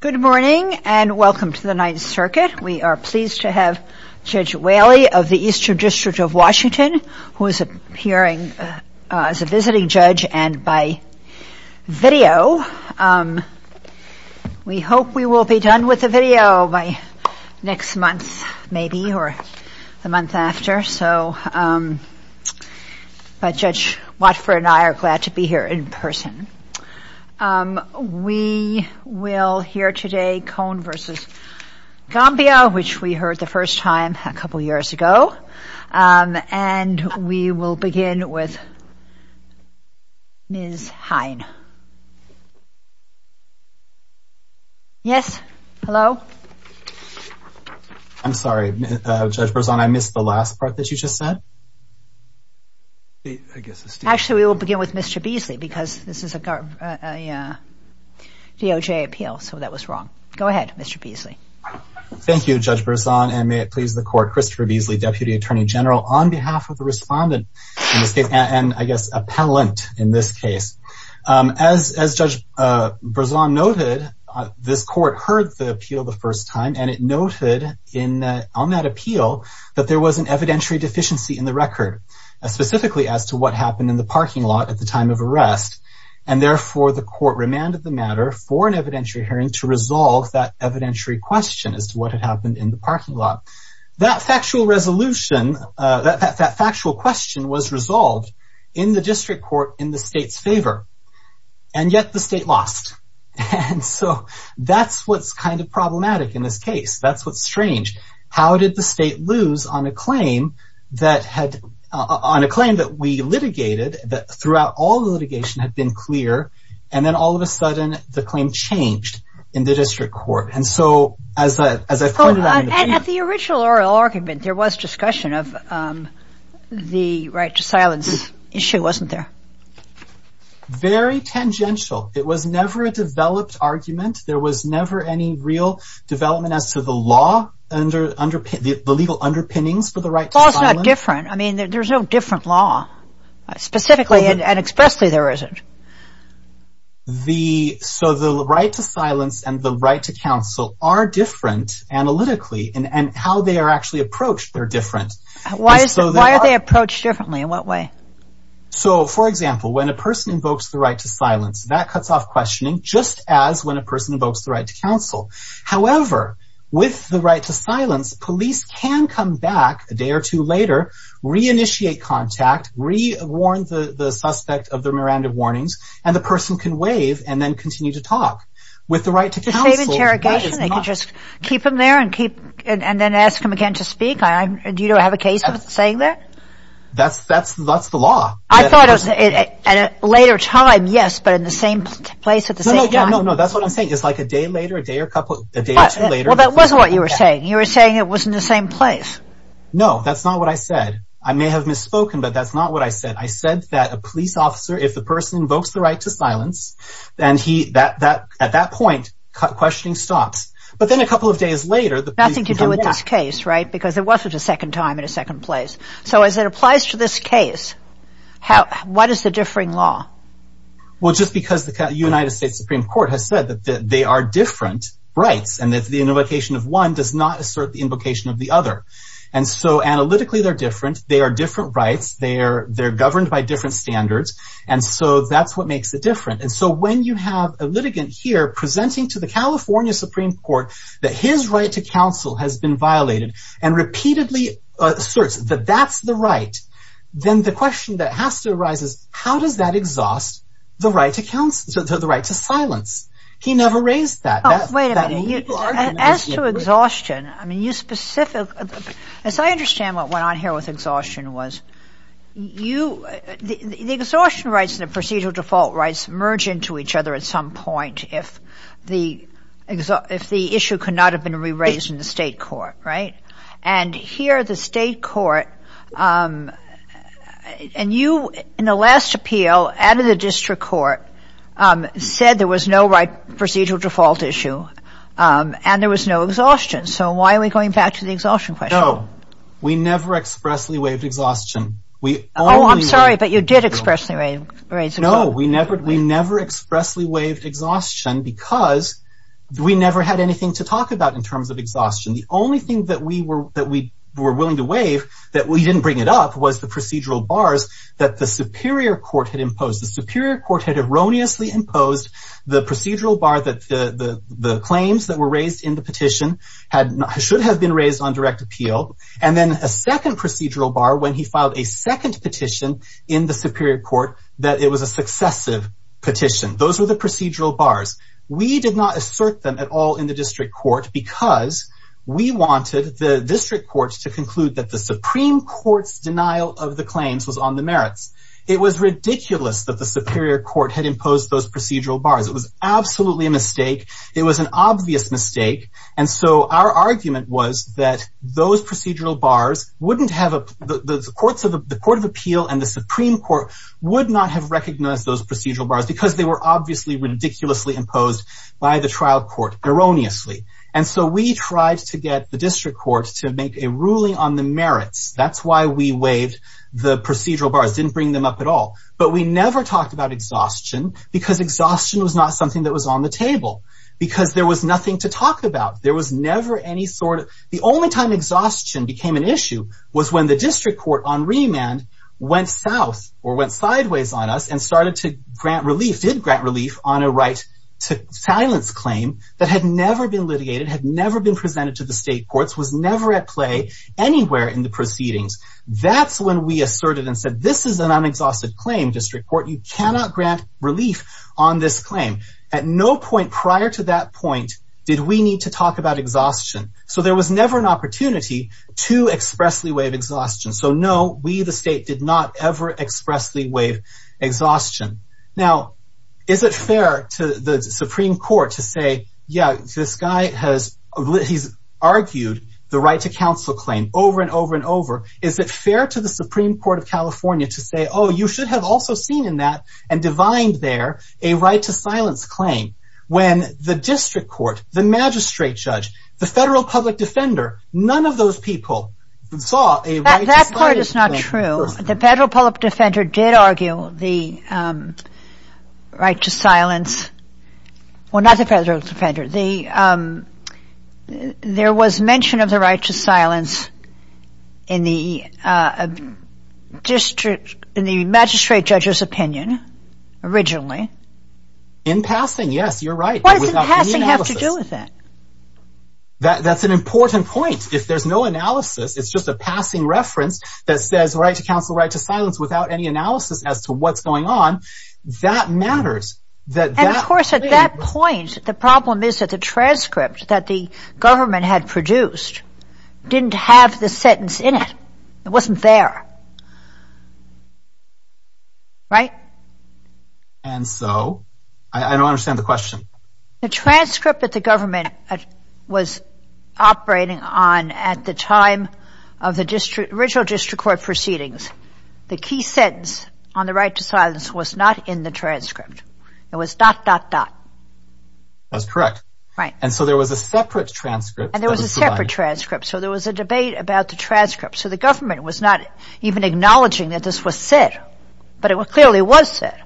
Good morning and welcome to the Ninth Circuit. We are pleased to have Judge Whaley of the Eastern District of Washington who is appearing as a visiting judge and by video. We hope we will be done with the video by next month maybe or the month after, but Judge Watford and I are glad to We will hear today Kon v. Gamboa which we heard the first time a couple years ago and we will begin with Ms. Hine. Yes, hello. I'm sorry, Judge Berzon, I missed the last part that you just said. Actually, we will begin with Mr. Beasley because this is a DOJ appeal so that was wrong. Go ahead, Mr. Beasley. Thank you, Judge Berzon, and may it please the court, Christopher Beasley, Deputy Attorney General, on behalf of the respondent in this case and I guess appellant in this case. As Judge Berzon noted, this court heard the appeal the first time and it noted on that appeal that there was evidentiary deficiency in the record, specifically as to what happened in the parking lot at the time of arrest and therefore the court remanded the matter for an evidentiary hearing to resolve that evidentiary question as to what had happened in the parking lot. That factual resolution, that factual question was resolved in the district court in the state's favor and yet the state lost and so that's what's kind of problematic in this case. That's what's strange. How did the state lose on a claim that had, on a claim that we litigated, that throughout all the litigation had been clear and then all of a sudden the claim changed in the district court and so as I pointed out, at the original oral argument there was discussion of the right to silence issue, wasn't there? Very tangential. It was never a developed argument. There was never any real development as to the legal underpinnings for the right to silence. The law is not different. I mean there's no different law, specifically and expressly there isn't. So the right to silence and the right to counsel are different analytically and how they are actually approached, they're different. Why are they approached differently? In what way? So for example, when a person invokes the right to silence, that cuts off questioning just as when a person invokes the right to counsel. However, with the right to silence, police can come back a day or two later, re-initiate contact, re-warn the the suspect of their Miranda warnings and the person can wave and then continue to talk. With the right to counsel, that is not... Is it safe interrogation? They could just keep him there and keep and then ask him again to speak? Do you have a case of it saying that? That's the law. I thought at a later time, yes, but in the same place at the same time. No, no, that's what I'm saying. It's like a day later, a day or two later. Well, that wasn't what you were saying. You were saying it was in the same place. No, that's not what I said. I may have misspoken, but that's not what I said. I said that a police officer, if the person invokes the right to silence, then at that point, questioning stops. But then a couple of days later... Nothing to do with this case, right? Because it wasn't a second time in a second place. So as it applies to this case, what is the difference? They are different rights and that the invocation of one does not assert the invocation of the other. And so analytically, they're different. They are different rights. They're governed by different standards. And so that's what makes it different. And so when you have a litigant here presenting to the California Supreme Court that his right to counsel has been violated and repeatedly asserts that that's the right, then the question that has to arise is how does that exhaust the right to silence? He never raised that. Oh, wait a minute. As to exhaustion, as I understand what went on here with exhaustion was the exhaustion rights and the procedural default rights merge into each other at some point if the issue could not have been re-raised in the state court, right? And here the state court, and you in the last appeal out of the district court said there was no right procedural default issue and there was no exhaustion. So why are we going back to the exhaustion question? No, we never expressly waived exhaustion. Oh, I'm sorry, but you did expressly raise exhaustion. No, we never expressly waived exhaustion because we never had anything to talk about in terms of was the procedural bars that the superior court had imposed. The superior court had erroneously imposed the procedural bar that the claims that were raised in the petition should have been raised on direct appeal and then a second procedural bar when he filed a second petition in the superior court that it was a successive petition. Those were the procedural bars. We did not assert them at all in the district court because we wanted the district courts to denial of the claims was on the merits. It was ridiculous that the superior court had imposed those procedural bars. It was absolutely a mistake. It was an obvious mistake. And so our argument was that those procedural bars wouldn't have the courts of the court of appeal and the Supreme Court would not have recognized those procedural bars because they were obviously ridiculously imposed by the trial court erroneously. And so we tried to get the district court to make a ruling on the merits. That's why we waived the procedural bars didn't bring them up at all. But we never talked about exhaustion because exhaustion was not something that was on the table because there was nothing to talk about. There was never any sort of the only time exhaustion became an issue was when the district court on remand went south or went sideways on us and started to grant relief did grant relief on a right to silence claim that had never been litigated had never been presented to the state courts was never at play anywhere in the proceedings. That's when we asserted and said this is an unexhausted claim district court you cannot grant relief on this claim. At no point prior to that point did we need to talk about exhaustion. So there was never an opportunity to expressly waive exhaustion. So no we the state did not ever expressly waive exhaustion. Now is it argued the right to counsel claim over and over and over is it fair to the Supreme Court of California to say oh you should have also seen in that and divined there a right to silence claim when the district court the magistrate judge the federal public defender none of those people saw that part is not true. The federal public defender did argue the right to silence well not the federal defender the um there was mention of the right to silence in the uh district in the magistrate judge's opinion originally. In passing yes you're right. What does in passing have to do with that? That that's an important point if there's no analysis it's just a passing reference that says right to counsel right to silence without any analysis as to what's going on that matters. And of course at that point the problem is that the transcript that the government had produced didn't have the sentence in it. It wasn't there. Right? And so I don't understand the question. The transcript that the government was operating on at the time of the district original district court proceedings the key sentence on the right to silence was not in the transcript it was dot dot dot that's correct right and so there was a separate transcript and there was a separate transcript so there was a debate about the transcript so the government was not even acknowledging that this was said but it clearly was said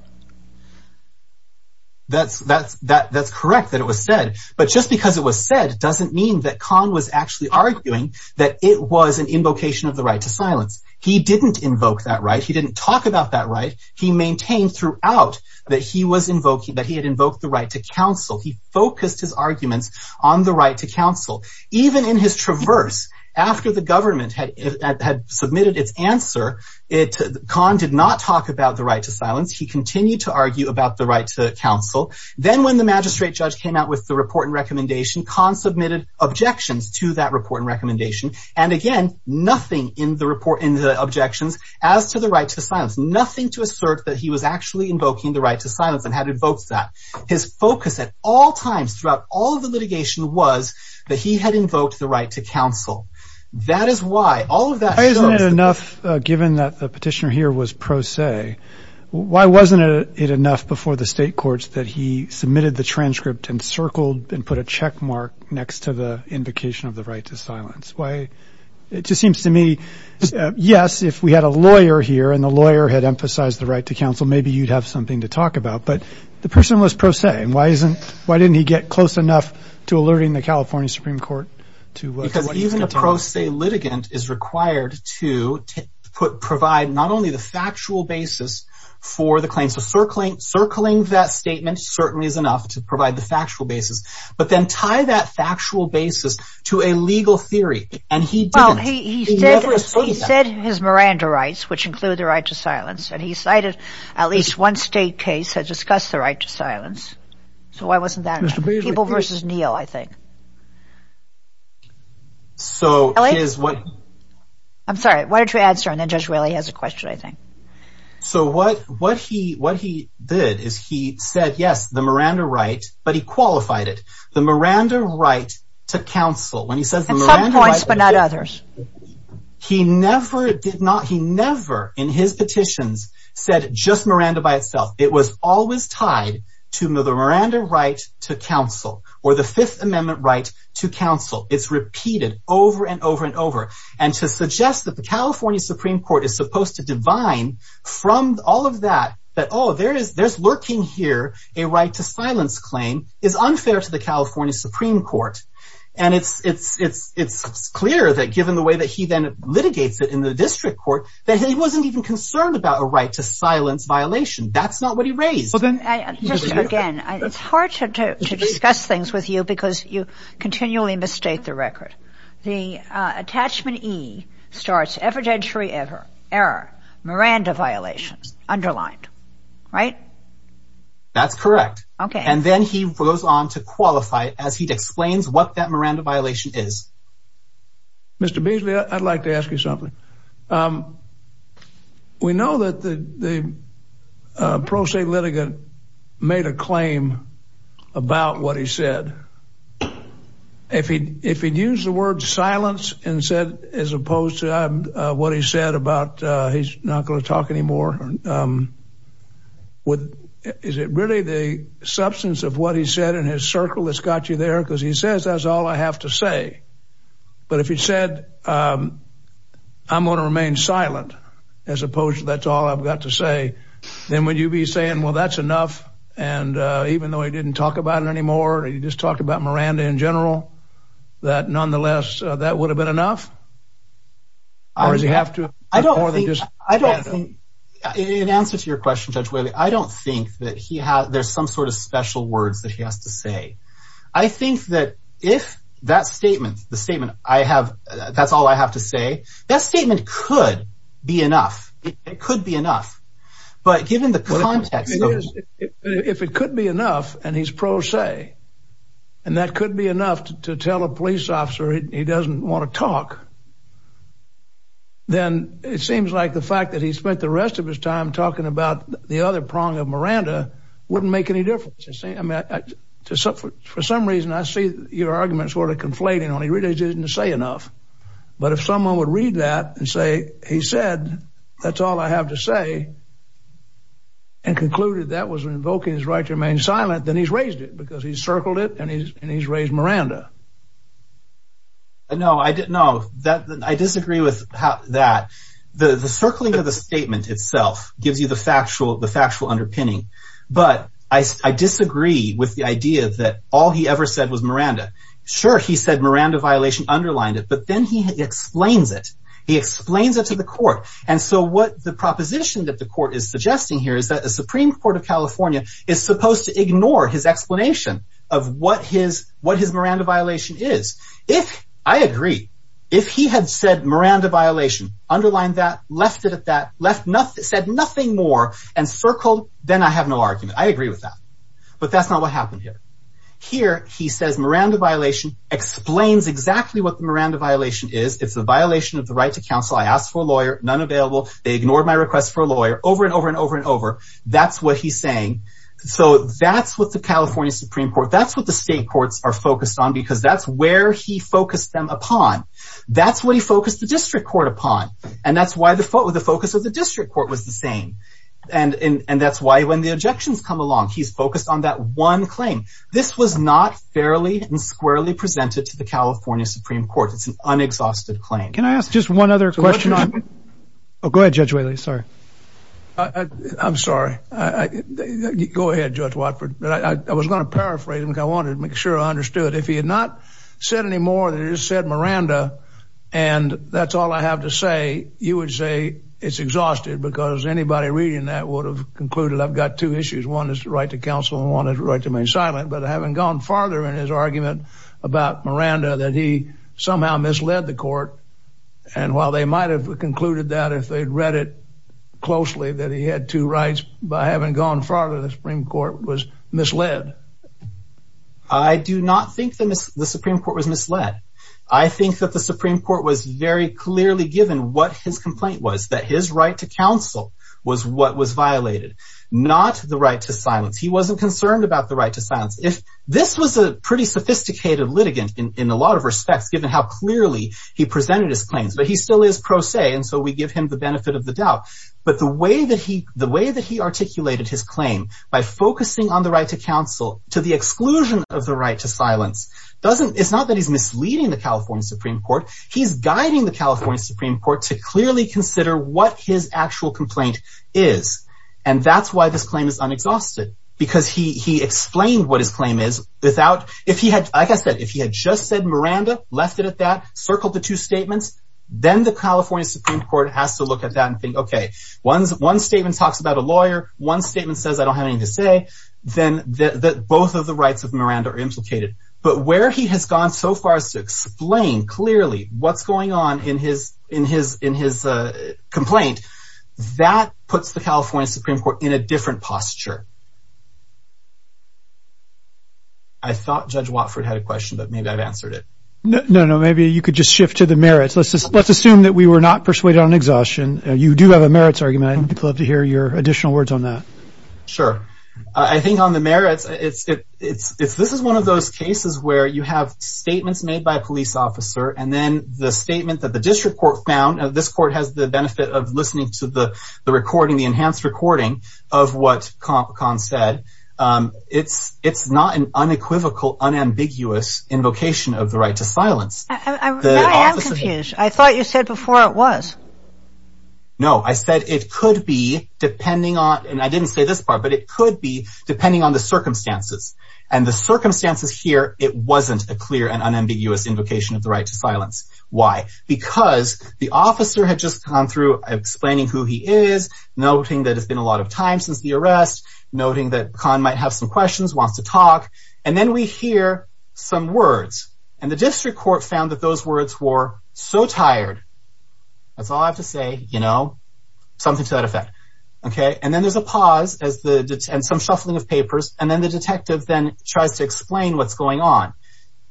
that's that's that that's correct that it was said but just because it was said doesn't mean that khan was actually arguing that it was an invocation of the right to silence he didn't invoke that right he didn't talk about that right he maintained throughout that he was invoking that he had invoked the right to counsel he focused his arguments on the right to counsel even in his traverse after the government had submitted its answer it khan did not talk about the right to silence he continued to argue about the right to counsel then when the magistrate judge came out with the report and recommendation khan submitted objections to that report and and again nothing in the report in the objections as to the right to silence nothing to assert that he was actually invoking the right to silence and had invoked that his focus at all times throughout all of the litigation was that he had invoked the right to counsel that is why all of that isn't it enough uh given that the petitioner here was pro se why wasn't it enough before the state courts that he submitted the transcript and circled and put a check mark next to the it just seems to me yes if we had a lawyer here and the lawyer had emphasized the right to counsel maybe you'd have something to talk about but the person was pro se and why isn't why didn't he get close enough to alerting the california supreme court to because even a pro se litigant is required to put provide not only the factual basis for the claims of circling circling that statement certainly is enough to provide the factual basis but then tie that factual basis to a legal theory and he didn't he said he said his miranda rights which include the right to silence and he cited at least one state case that discussed the right to silence so why wasn't that people versus neil i think so is what i'm sorry why don't you answer and then just really has a question i think so what what he what he did is he said yes the miranda right but he qualified it the miranda right to counsel when he says some points but not others he never did not he never in his petitions said just miranda by itself it was always tied to the miranda right to counsel or the fifth amendment right to counsel it's repeated over and over and over and to suggest that the california supreme court is supposed to divine from all of that that oh there is there's lurking here a right to silence claim is unfair to the california supreme court and it's it's it's it's clear that given the way that he then litigates it in the district court that he wasn't even concerned about a right to silence violation that's not what he raised well then just again it's hard to discuss things with you because you continually misstate the record the attachment e starts evidentiary ever error violations underlined right that's correct okay and then he goes on to qualify as he explains what that miranda violation is mr beasley i'd like to ask you something um we know that the the pro se litigant made a claim about what he said if he if he'd use the word silence and said as um with is it really the substance of what he said in his circle that's got you there because he says that's all i have to say but if he said um i'm going to remain silent as opposed to that's all i've got to say then would you be saying well that's enough and uh even though he didn't talk about it anymore he just talked about miranda in general that nonetheless that would have been enough or does he have to i don't think i don't think in answer to your question judge wiley i don't think that he has there's some sort of special words that he has to say i think that if that statement the statement i have that's all i have to say that statement could be enough it could be enough but given the context it is if it could be enough and he's pro se and that could be enough to tell a police officer he doesn't want to talk then it seems like the fact that he spent the rest of his time talking about the other prong of miranda wouldn't make any difference you see i mean for some reason i see your arguments sort of conflating on he really didn't say enough but if someone would read that and say he said that's all i have to say and concluded that was invoking his right to remain silent then he's it because he circled it and he's and he's raised miranda no i didn't know that i disagree with how that the the circling of the statement itself gives you the factual the factual underpinning but i disagree with the idea that all he ever said was miranda sure he said miranda violation underlined it but then he explains it he explains it to the court and so what the proposition that court is suggesting here is that the supreme court of california is supposed to ignore his explanation of what his what his miranda violation is if i agree if he had said miranda violation underlined that left it at that left nothing said nothing more and circled then i have no argument i agree with that but that's not what happened here here he says miranda violation explains exactly what the miranda violation is it's a violation of the right to counsel i asked for a lawyer none available they ignored my request for a lawyer over and over and over and over that's what he's saying so that's what the california supreme court that's what the state courts are focused on because that's where he focused them upon that's what he focused the district court upon and that's why the focus of the district court was the same and and that's why when the objections come along he's focused on that one claim this was not fairly and squarely presented to the california supreme court it's an unexhausted claim can i ask just one other question oh go ahead judge whaley sorry i i'm sorry i go ahead judge watford but i was going to paraphrase him because i wanted to make sure i understood if he had not said any more than he said miranda and that's all i have to say you would say it's exhausted because anybody reading that would have concluded i've got two issues one is the right to counsel and one is right to remain silent but i haven't gone farther in his argument about miranda that he somehow misled the court and while they might have concluded that if they'd read it closely that he had two rights by having gone farther the supreme court was misled i do not think that the supreme court was misled i think that the supreme court was very clearly given what his complaint was that his right to counsel was what was violated not the right to silence he wasn't concerned about the right to silence if this was a pretty sophisticated litigant in a lot of respects given how clearly he presented his claims but he still is pro se and so we give him the benefit of the doubt but the way that he the way that he articulated his claim by focusing on the right to counsel to the exclusion of the right to silence doesn't it's not that he's misleading the california supreme court he's guiding the california supreme court to clearly consider what his actual complaint is and that's why this claim is unexhausted because he he explained what his claim is without if he had like i said if he had just said miranda left it at that circled the two statements then the california supreme court has to look at that and think okay one's one statement talks about a lawyer one statement says i don't have anything to say then that both of the rights of miranda are implicated but where he has gone so far as to explain clearly what's going on in his in his in his uh complaint that puts the california supreme court in a different posture i thought judge watford had a question but maybe i've answered it no no maybe you could just shift to the merits let's just let's assume that we were not persuaded on exhaustion you do have a merits argument i'd love to hear your additional words on that sure i think on the merits it's it it's this is one of those cases where you have statements made by a police officer and then the statement that the district court found this court has the benefit of listening to the the recording the enhanced recording of what con said um it's it's not an unequivocal unambiguous invocation of the right to silence i am confused i thought you said before it was no i said it could be depending on and i didn't say this part but it could be depending on the circumstances and the circumstances here it wasn't a clear and unambiguous invocation of the right to noting that it's been a lot of time since the arrest noting that con might have some questions wants to talk and then we hear some words and the district court found that those words were so tired that's all i have to say you know something to that effect okay and then there's a pause as the and some shuffling of papers and then the detective then tries to explain what's going on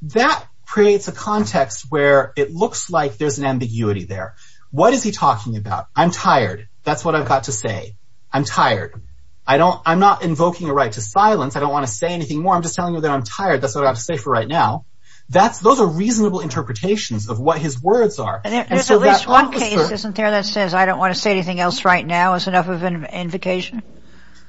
that creates a context where it looks like there's an ambiguity there what is he talking about i'm tired that's what i've got to say i'm tired i don't i'm not invoking a right to silence i don't want to say anything more i'm just telling you that i'm tired that's what i have to say for right now that's those are reasonable interpretations of what his words are and so there's at least one case isn't there that says i don't want to say anything else right now is enough of an invocation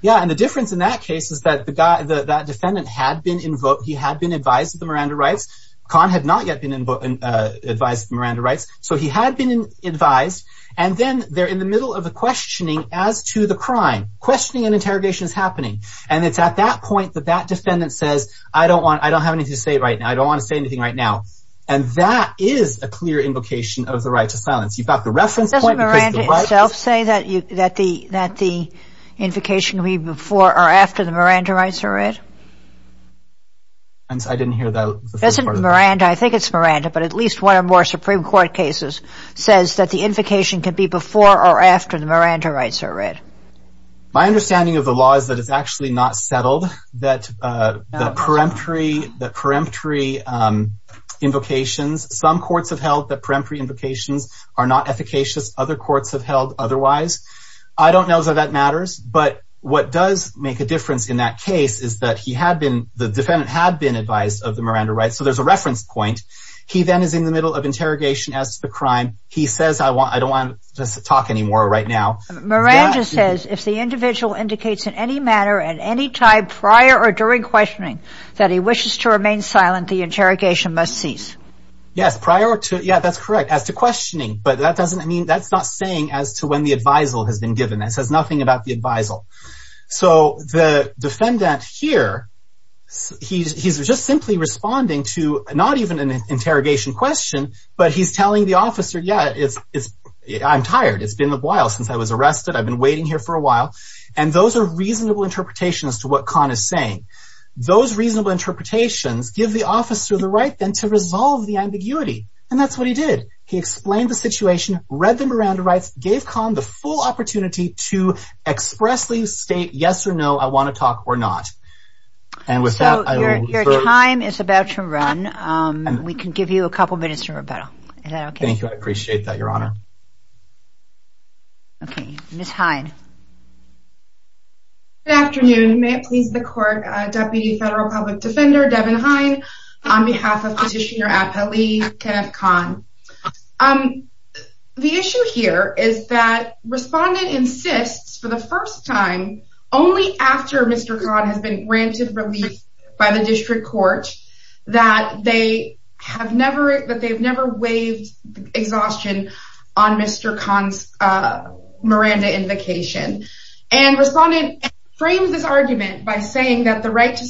yeah and the difference in that case is that the guy the that defendant had been invoked he had been advised to the miranda rights con had not yet been in uh advised miranda rights so he had been advised and then they're in the middle of the questioning as to the crime questioning and interrogation is happening and it's at that point that that defendant says i don't want i don't have anything to say right now i don't want to say anything right now and that is a clear invocation of the right to silence you've got the reference point doesn't miranda itself say that you that the that the invocation will be before or after the miranda rights are read and i didn't hear that isn't miranda i think it's miranda but at least one or more supreme court cases says that the invocation can be before or after the miranda rights are read my understanding of the law is that it's actually not settled that uh the peremptory the peremptory um invocations some courts have held that peremptory invocations are not efficacious other courts have held otherwise i don't know that that matters but what does make a difference in that case is that he had been the defendant had been advised of the miranda right so there's a reference point he then is in the middle of interrogation as to the crime he says i want i don't want to talk anymore right now miranda says if the individual indicates in any manner at any time prior or during questioning that he wishes to remain silent the interrogation must cease yes prior to yeah that's correct as to questioning but that doesn't mean that's not saying as to when the advisal has been given that says nothing about the advisal so the defendant here he's just simply responding to not even an interrogation question but he's telling the officer yeah it's it's i'm tired it's been a while since i was arrested i've been waiting here for a while and those are reasonable interpretations to what con is saying those reasonable interpretations give the officer the right then to resolve the ambiguity and that's what he did he explained the situation read the miranda rights gave con the full opportunity to expressly state yes or no i not and with that your time is about to run um we can give you a couple minutes to rebuttal is that okay thank you i appreciate that your honor okay miss hein good afternoon may it please the court uh deputy federal public defender devin hein on behalf of petitioner appellee con um the issue here is that respondent insists for the first time only after mr con has been granted relief by the district court that they have never that they've never waived exhaustion on mr con's uh miranda invocation and respondent framed this argument by saying that the right to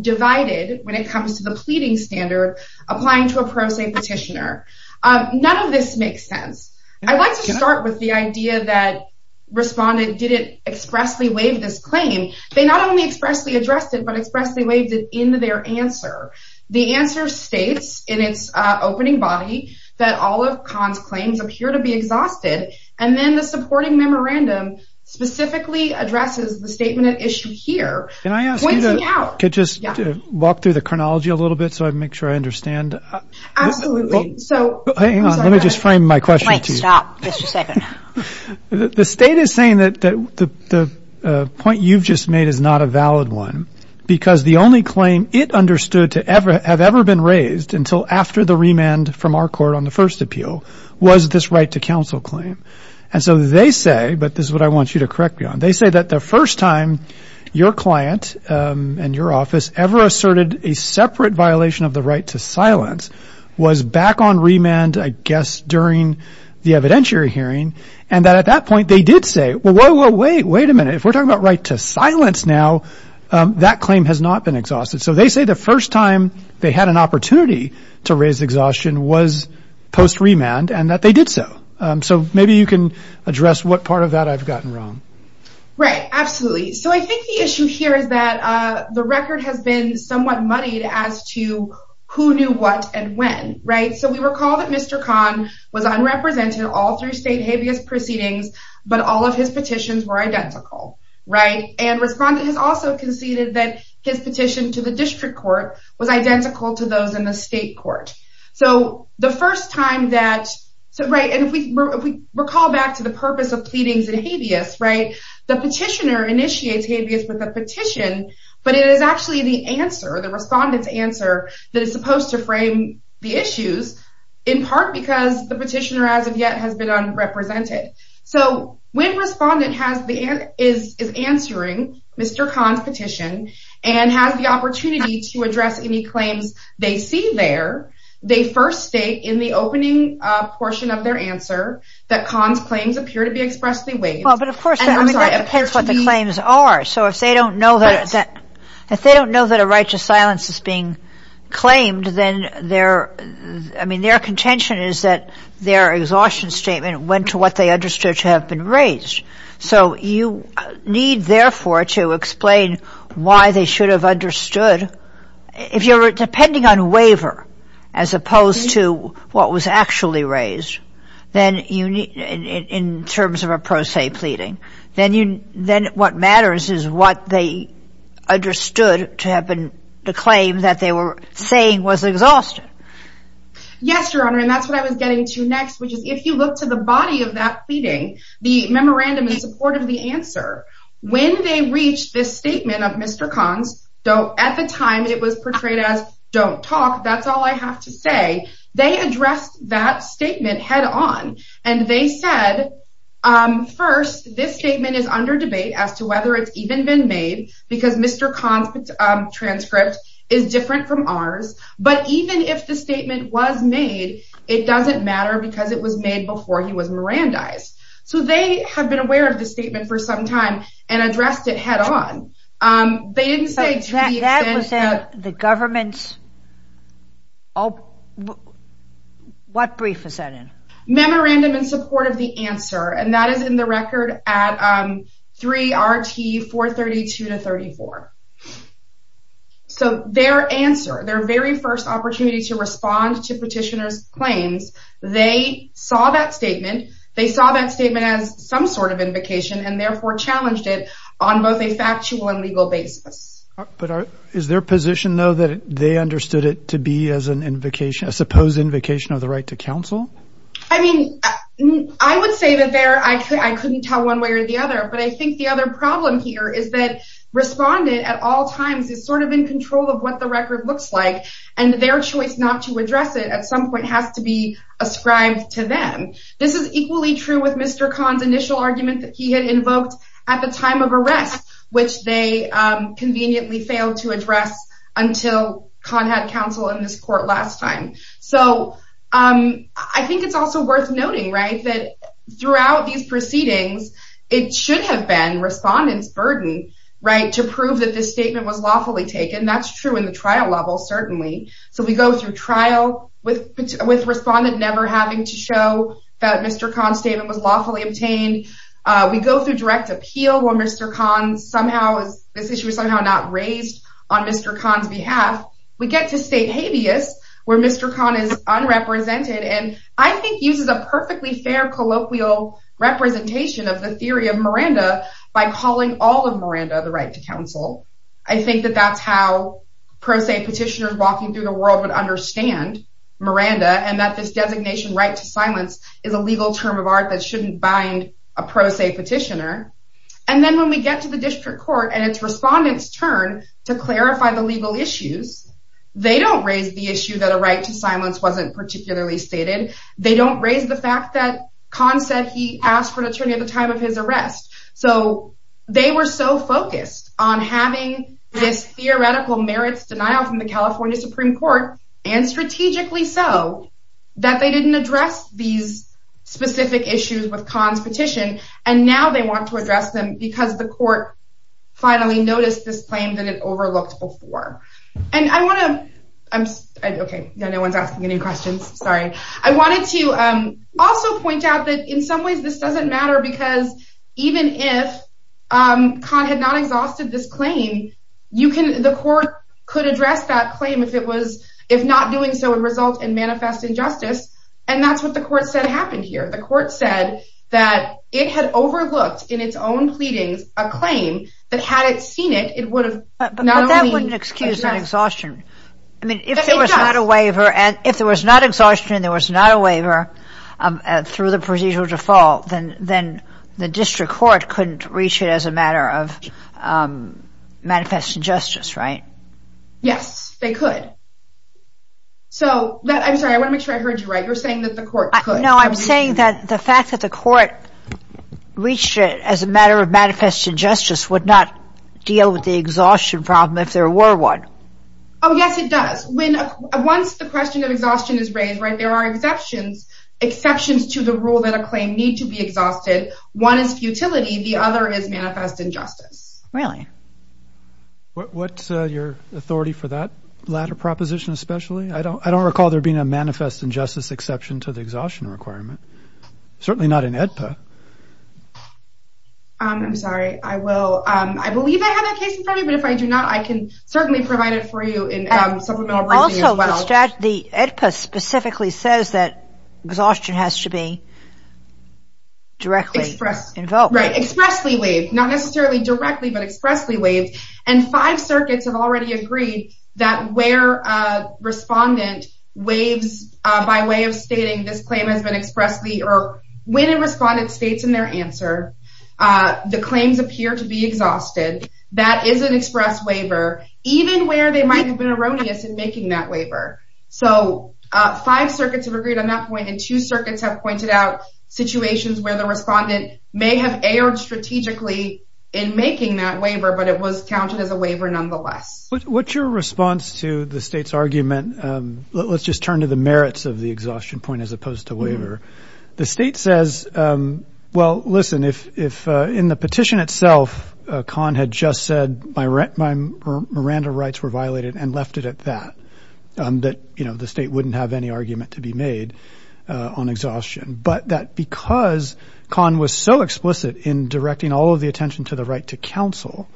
divided when it comes to the pleading standard applying to a pro se petitioner none of this makes sense i'd like to start with the idea that respondent didn't expressly waive this claim they not only expressly addressed it but expressly waived it into their answer the answer states in its uh opening body that all of con's claims appear to be exhausted and then the supporting memorandum specifically addresses the statement of issue here can i ask you to just walk through the chronology a little bit so i make sure i understand absolutely so hang on let me just frame my question point stop just a second the state is saying that the the point you've just made is not a valid one because the only claim it understood to ever have ever been raised until after the remand from our court on the first appeal was this right to counsel claim and so they say but this is what i want you to correct me on they say that the first time your client and your office ever asserted a separate violation of the right to silence was back on remand i guess during the evidentiary hearing and that at that point they did say well whoa whoa wait wait a minute if we're talking about right to silence now that claim has not been exhausted so they say the first time they had an opportunity to raise exhaustion was post remand and that they did so um so maybe you can address what part of that i've gotten wrong right absolutely so i think the issue here is that uh the record has been somewhat muddied as to who knew what and when right so we recall that mr con was unrepresented all three state habeas proceedings but all of his petitions were identical right and respondent has also conceded that his petition to the district court was identical to those in the state court so the first time that so right and if we recall back to the purpose of pleadings and habeas right the petitioner initiates habeas with a petition but it is actually the answer the respondent's answer that is supposed to frame the issues in part because the petitioner as of yet has been unrepresented so when respondent has the is is answering mr con's petition and has the opportunity to address any claims they see there they first state in the opening uh portion of their answer that con's claims appear to be expressly waived well but of course i mean that depends what the claims are so if they don't know that if they don't know that a right to silence is being claimed then their i mean their contention is that their exhaustion statement went to what they understood to have been raised so you need therefore to explain why they should have understood if you're depending on waiver as opposed to what was actually raised then you need in terms of a pro se pleading then you then what matters is what they understood to have been the claim that they were saying was exhausted yes your honor and that's what i was getting to next which is if you look to the body of that pleading the memorandum in answer when they reached this statement of mr con's don't at the time it was portrayed as don't talk that's all i have to say they addressed that statement head on and they said um first this statement is under debate as to whether it's even been made because mr con's transcript is different from ours but even if the statement was made it doesn't matter because it was made before he was mirandized so they have been aware of the statement for some time and addressed it head on um they didn't say that the government's oh what brief is that in memorandum in support of the answer and that is in the record at um three rt 432 to 34 so their answer their very opportunity to respond to petitioners claims they saw that statement they saw that statement as some sort of invocation and therefore challenged it on both a factual and legal basis but is their position though that they understood it to be as an invocation a supposed invocation of the right to counsel i mean i would say that there i could i couldn't tell one way or the other but i think the other problem here is that respondent at all times is sort of in control of what the record looks like and their choice not to address it at some point has to be ascribed to them this is equally true with mr con's initial argument that he had invoked at the time of arrest which they um conveniently failed to address until con had counsel in this court last time so um i think it's also worth noting right that throughout these proceedings it should have been respondents burden right to prove that this statement was lawfully taken that's true in the trial level certainly so we go through trial with with respondent never having to show that mr con statement was lawfully obtained uh we go through direct appeal where mr con somehow is this issue is somehow not raised on mr con's behalf we get to state habeas where mr con is unrepresented and i think uses a the right to counsel i think that that's how pro se petitioners walking through the world would understand miranda and that this designation right to silence is a legal term of art that shouldn't bind a pro se petitioner and then when we get to the district court and its respondents turn to clarify the legal issues they don't raise the issue that a right to silence wasn't particularly stated they don't raise the fact that con said he asked for an attorney at the rest so they were so focused on having this theoretical merits denial from the california supreme court and strategically so that they didn't address these specific issues with con's petition and now they want to address them because the court finally noticed this claim that it overlooked before and i want to i'm okay no one's asking any questions sorry i wanted to um also point out that in some ways this doesn't matter because even if um con had not exhausted this claim you can the court could address that claim if it was if not doing so would result in manifest injustice and that's what the court said happened here the court said that it had overlooked in its own pleadings a claim that had it seen it it would have but that wouldn't excuse that exhaustion i mean if there was not a waiver and if there was not exhaustion there was not a waiver through the procedural default then then the district court couldn't reach it as a matter of manifest injustice right yes they could so i'm sorry i want to make sure i heard you right you're saying that the court could no i'm saying that the fact that the court reached it as a matter of manifest injustice would not deal with the exhaustion problem if there were one oh yes it does when once the question of exhaustion is raised right there are exceptions exceptions to the rule that a claim need to be exhausted one is futility the other is manifest injustice really what's uh your authority for that latter proposition especially i don't i don't recall there being a manifest injustice exception to the exhaustion requirement certainly not in edpa um i'm sorry i will um i believe i have a case in front of you but if i do not i can certainly provide it for you in um also the edpa specifically says that exhaustion has to be directly expressed involved right expressly waived not necessarily directly but expressly waived and five circuits have already agreed that where a respondent waives uh by way of stating this or when it responded states in their answer uh the claims appear to be exhausted that is an express waiver even where they might have been erroneous in making that waiver so uh five circuits have agreed on that point and two circuits have pointed out situations where the respondent may have erred strategically in making that waiver but it was counted as a waiver nonetheless what's your response to the state's argument um let's just turn to the merits of the exhaustion point as the state says um well listen if if uh in the petition itself uh con had just said my rent my miranda rights were violated and left it at that um that you know the state wouldn't have any argument to be made uh on exhaustion but that because con was so explicit in directing all of the attention to the right to counsel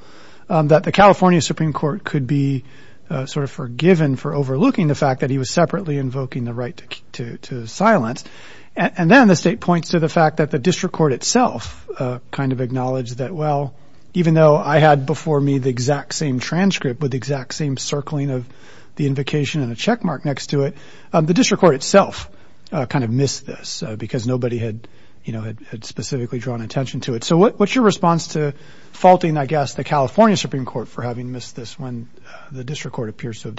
um that the california supreme court could be sort of forgiven for overlooking the fact that he was separately invoking the right to silence and then the state points to the fact that the district court itself uh kind of acknowledged that well even though i had before me the exact same transcript with the exact same circling of the invocation and a check mark next to it the district court itself uh kind of missed this because nobody had you know had specifically drawn attention to it so what's your response to faulting i guess the california supreme court for having missed this when the district court said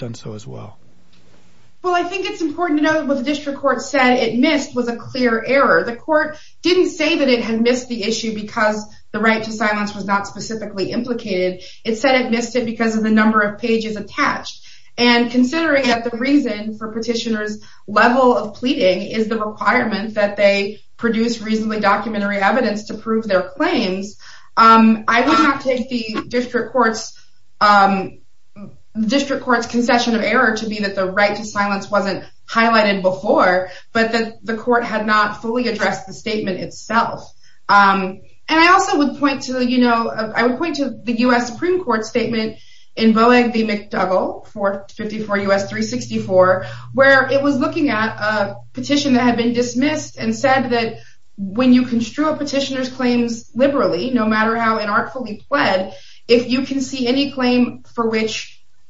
it missed was a clear error the court didn't say that it had missed the issue because the right to silence was not specifically implicated it said it missed it because of the number of pages attached and considering that the reason for petitioners level of pleading is the requirement that they produce reasonably documentary evidence to prove their claims um i would not take the district court's um district court's concession of error to be that the right to silence wasn't highlighted before but that the court had not fully addressed the statement itself um and i also would point to you know i would point to the u.s supreme court statement in boegby mcdougall 454 us 364 where it was looking at a petition that had been dismissed and said that when you construe a petitioner's claims liberally no matter how inartfully pled if you can see any claim for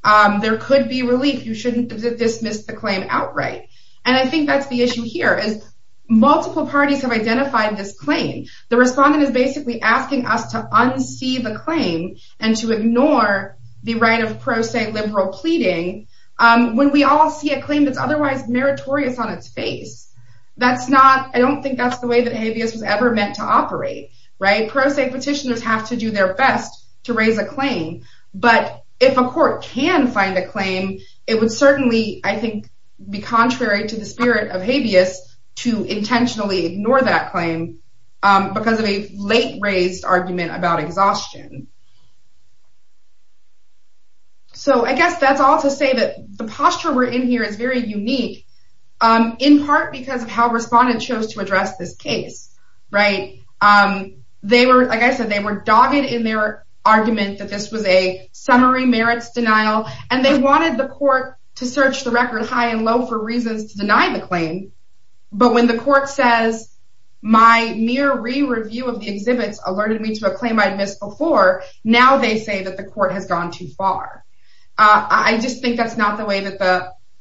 um there could be relief you shouldn't dismiss the claim outright and i think that's the issue here is multiple parties have identified this claim the respondent is basically asking us to unsee the claim and to ignore the right of pro se liberal pleading um when we all see a claim that's otherwise meritorious on its face that's not i don't think that's the way that habeas was ever meant to operate right pro se petitioners have to do their best to raise a claim but if a court can find a claim it would certainly i think be contrary to the spirit of habeas to intentionally ignore that claim um because of a late raised argument about exhaustion so i guess that's all to say that the posture we're in here is very unique um in part because of how respondents chose to address this case right um they were like i said they were dogged in their argument that this was a summary merits denial and they wanted the court to search the record high and low for reasons to deny the claim but when the court says my mere re-review of the exhibits alerted me to a claim i'd missed before now they say that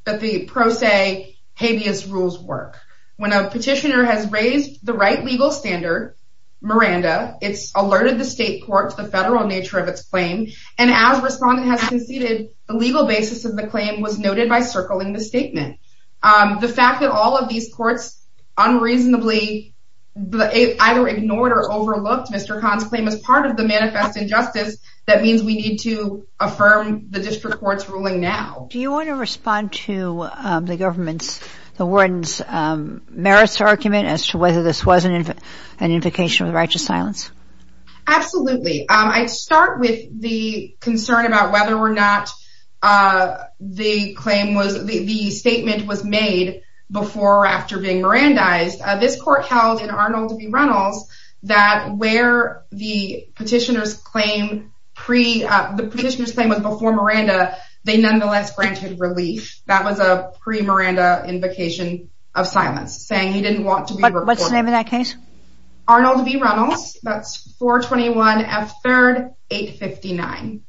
the habeas rules work when a petitioner has raised the right legal standard miranda it's alerted the state court to the federal nature of its claim and as respondent has conceded the legal basis of the claim was noted by circling the statement um the fact that all of these courts unreasonably either ignored or overlooked mr khan's claim as part of the manifest injustice that means we need to affirm the district court's ruling now do you want to respond to um the government's the warden's um merits argument as to whether this wasn't an invocation with righteous silence absolutely um i'd start with the concern about whether or not uh the claim was the statement was made before or after being mirandized this court held in arnold v reynolds that where the petitioner's claim pre uh the petitioner's claim was before they nonetheless granted relief that was a pre-miranda invocation of silence saying he didn't want to be what's the name of that case arnold v reynolds that's 421 f 3rd 859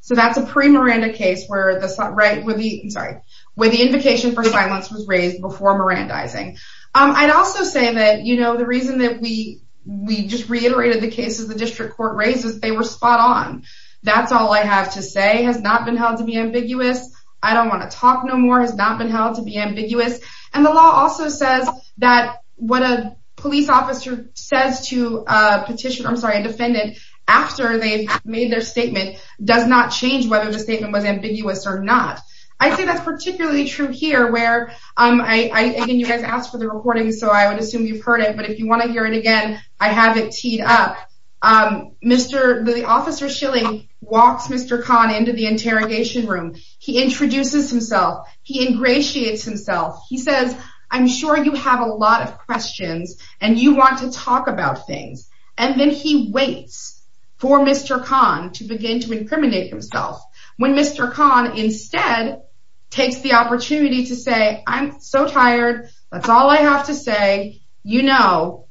so that's a pre-miranda case where the right with the sorry where the invocation for silence was raised before mirandizing um i'd also say that you know the reason that we we just reiterated the cases the district court raises they were spot on that's all i have to say has not been held to be ambiguous i don't want to talk no more has not been held to be ambiguous and the law also says that what a police officer says to a petitioner i'm sorry a defendant after they've made their statement does not change whether the statement was ambiguous or not i think that's particularly true here where um i i again you guys asked for the recording so i would assume you've heard it but if you want to hear it again i have it teed up um mr the officer shilling walks mr khan into the interrogation room he introduces himself he ingratiates himself he says i'm sure you have a lot of questions and you want to talk about things and then he waits for mr khan to begin to incriminate himself when mr khan instead takes the opportunity to say i'm so tired that's all i have to say you know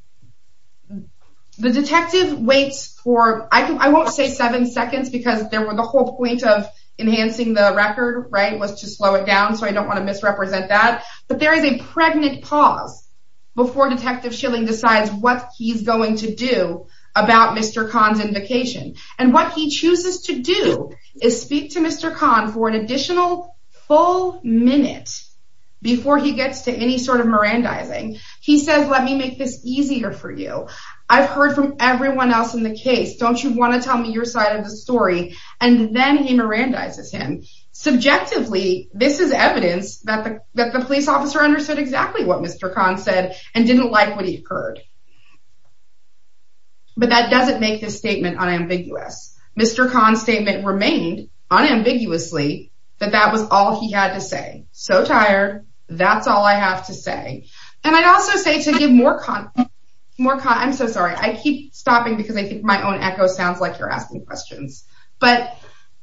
the detective waits for i don't i won't say seven seconds because there were the whole point of enhancing the record right was to slow it down so i don't want to misrepresent that but there is a pregnant pause before detective shilling decides what he's going to do about mr khan's invocation and what he chooses to do is speak to mr khan for an he says let me make this easier for you i've heard from everyone else in the case don't you want to tell me your side of the story and then he mirandizes him subjectively this is evidence that the that the police officer understood exactly what mr khan said and didn't like what he heard but that doesn't make this statement unambiguous mr khan's statement remained unambiguously that that was all he had to say so tired that's all i have to say and i'd also say to give more con more i'm so sorry i keep stopping because i think my own echo sounds like you're asking questions but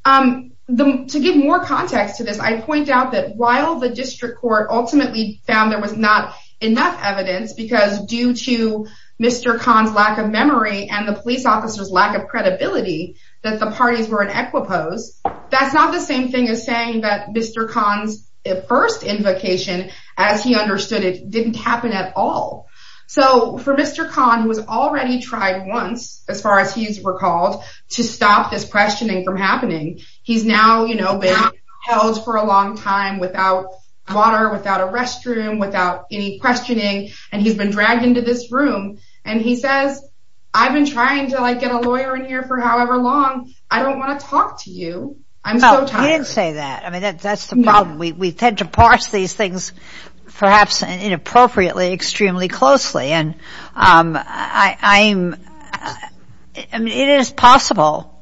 um to give more context to this i point out that while the district court ultimately found there was not enough evidence because due to mr khan's lack of memory and the that's not the same thing as saying that mr khan's first invocation as he understood it didn't happen at all so for mr khan who has already tried once as far as he's recalled to stop this questioning from happening he's now you know been held for a long time without water without a restroom without any questioning and he's been dragged into this room and he says i've been trying to like get a lawyer in here for however long i don't want to talk to you i'm so tired say that i mean that's the problem we tend to parse these things perhaps inappropriately extremely closely and um i i'm i mean it is possible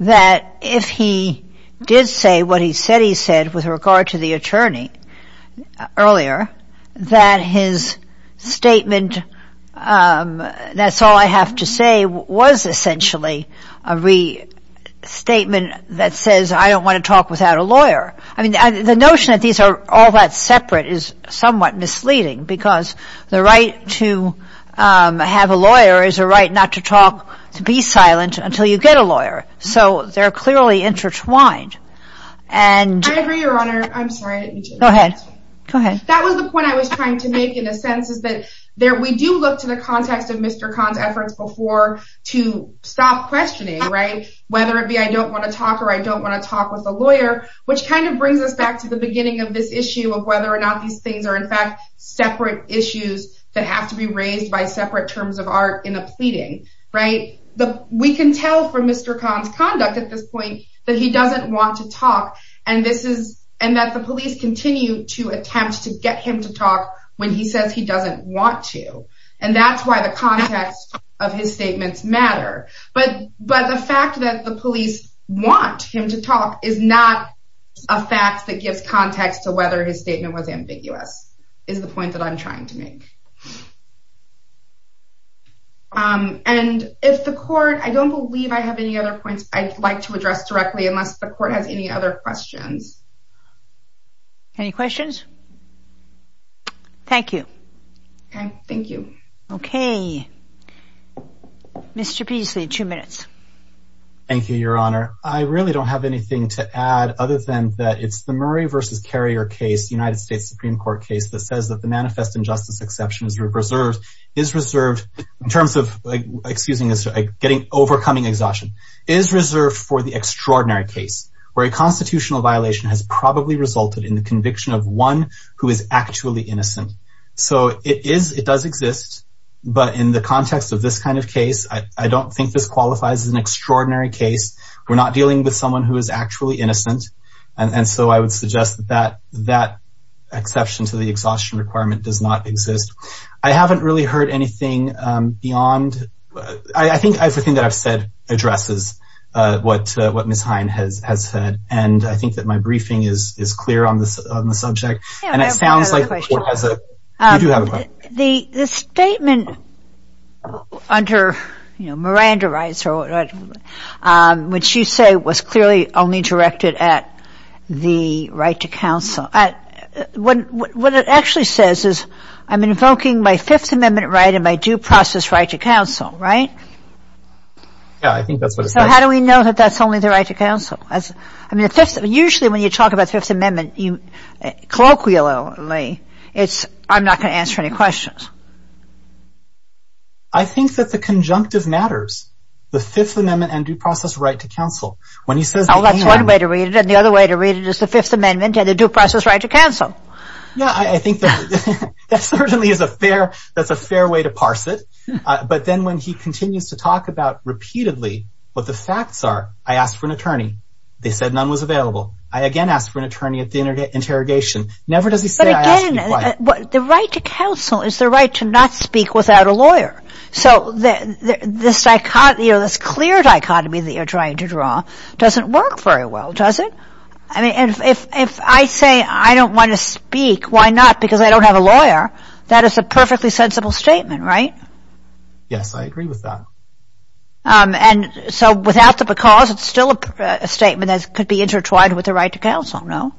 that if he did say what he said he said with regard to the essentially a restatement that says i don't want to talk without a lawyer i mean the notion that these are all that separate is somewhat misleading because the right to um have a lawyer is a right not to talk to be silent until you get a lawyer so they're clearly intertwined and i agree your honor i'm sorry go ahead go ahead that was the point i was trying to make in a sense is that we do look to the context of mr khan's efforts before to stop questioning right whether it be i don't want to talk or i don't want to talk with a lawyer which kind of brings us back to the beginning of this issue of whether or not these things are in fact separate issues that have to be raised by separate terms of art in a pleading right the we can tell from mr khan's conduct at this point that he doesn't want to talk and this is and that the police continue to attempt to get him to talk when he says he doesn't want to and that's why the context of his statements matter but but the fact that the police want him to talk is not a fact that gives context to whether his statement was ambiguous is the point that i'm trying to make um and if the court i don't believe i have any other points i'd like to address directly unless the court has any other questions any questions thank you thank you okay mr peasley two minutes thank you your honor i really don't have anything to add other than that it's the murray versus carrier case united states supreme court case that says that the manifest injustice exception is reserved is reserved in terms of excusing us getting overcoming exhaustion is reserved for the extraordinary case where a probably resulted in the conviction of one who is actually innocent so it is it does exist but in the context of this kind of case i i don't think this qualifies as an extraordinary case we're not dealing with someone who is actually innocent and so i would suggest that that exception to the exhaustion requirement does not exist i haven't really heard anything um beyond i think everything that i've said addresses uh what uh what miss hein has has said and i think my briefing is is clear on this on the subject and it sounds like the the statement under you know miranda rights or what um which you say was clearly only directed at the right to counsel at what what it actually says is i'm invoking my fifth amendment right and my due process right to counsel right yeah i think that's what so how do we know that that's as i mean if that's usually when you talk about fifth amendment you colloquially it's i'm not going to answer any questions i think that the conjunctive matters the fifth amendment and due process right to counsel when he says that's one way to read it and the other way to read it is the fifth amendment and the due process right to counsel yeah i think that certainly is a fair that's a fair way to i asked for an attorney they said none was available i again asked for an attorney at the internet interrogation never does he say the right to counsel is the right to not speak without a lawyer so this dichotomy or this clear dichotomy that you're trying to draw doesn't work very well does it i mean if if i say i don't want to speak why not because i don't have a lawyer that is a perfectly sensible statement right yes i agree with that um and so without the cause it's still a statement that could be intertwined with the right to counsel no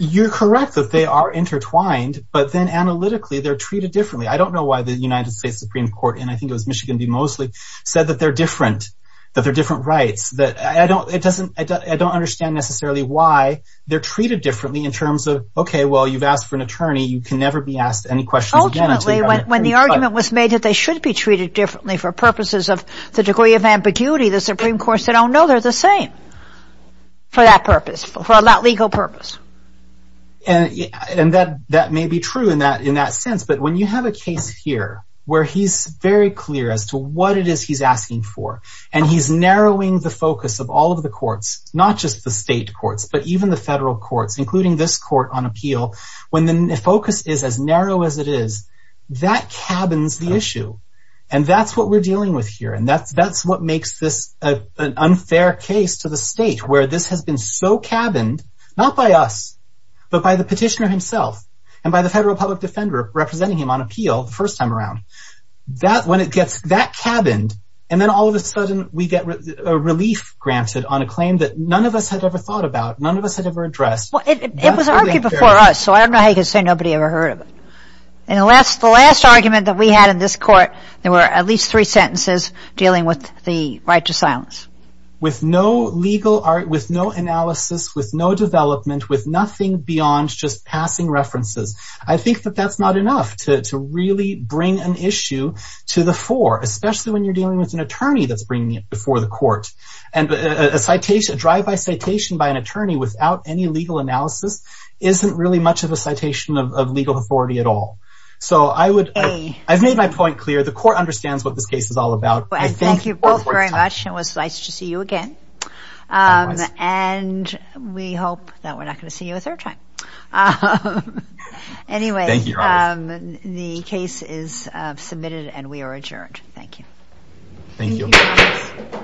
you're correct that they are intertwined but then analytically they're treated differently i don't know why the united states supreme court and i think it was michigan be mostly said that they're different that they're different rights that i don't it doesn't i don't understand necessarily why they're treated differently in terms of okay well you've asked for an attorney you can never be asked any questions ultimately when the argument was made that they should be no they're the same for that purpose for that legal purpose and and that that may be true in that in that sense but when you have a case here where he's very clear as to what it is he's asking for and he's narrowing the focus of all of the courts not just the state courts but even the federal courts including this court on appeal when the focus is as narrow as it is that cabins the fair case to the state where this has been so cabined not by us but by the petitioner himself and by the federal public defender representing him on appeal the first time around that when it gets that cabined and then all of a sudden we get a relief granted on a claim that none of us had ever thought about none of us had ever addressed well it was argued before us so i don't know how you could say nobody ever heard of it and the last the last argument that we had in this court there were at least three sentences dealing with the right to silence with no legal art with no analysis with no development with nothing beyond just passing references i think that that's not enough to to really bring an issue to the fore especially when you're dealing with an attorney that's bringing it before the court and a citation drive by citation by an attorney without any legal analysis isn't really much of a citation of legal authority at all so i would a i've made my point clear the court understands what this case is all about i thank you both very much it was nice to see you again um and we hope that we're not going to see you a third time um anyway thank you um the case is uh submitted and we are adjourned thank you thank you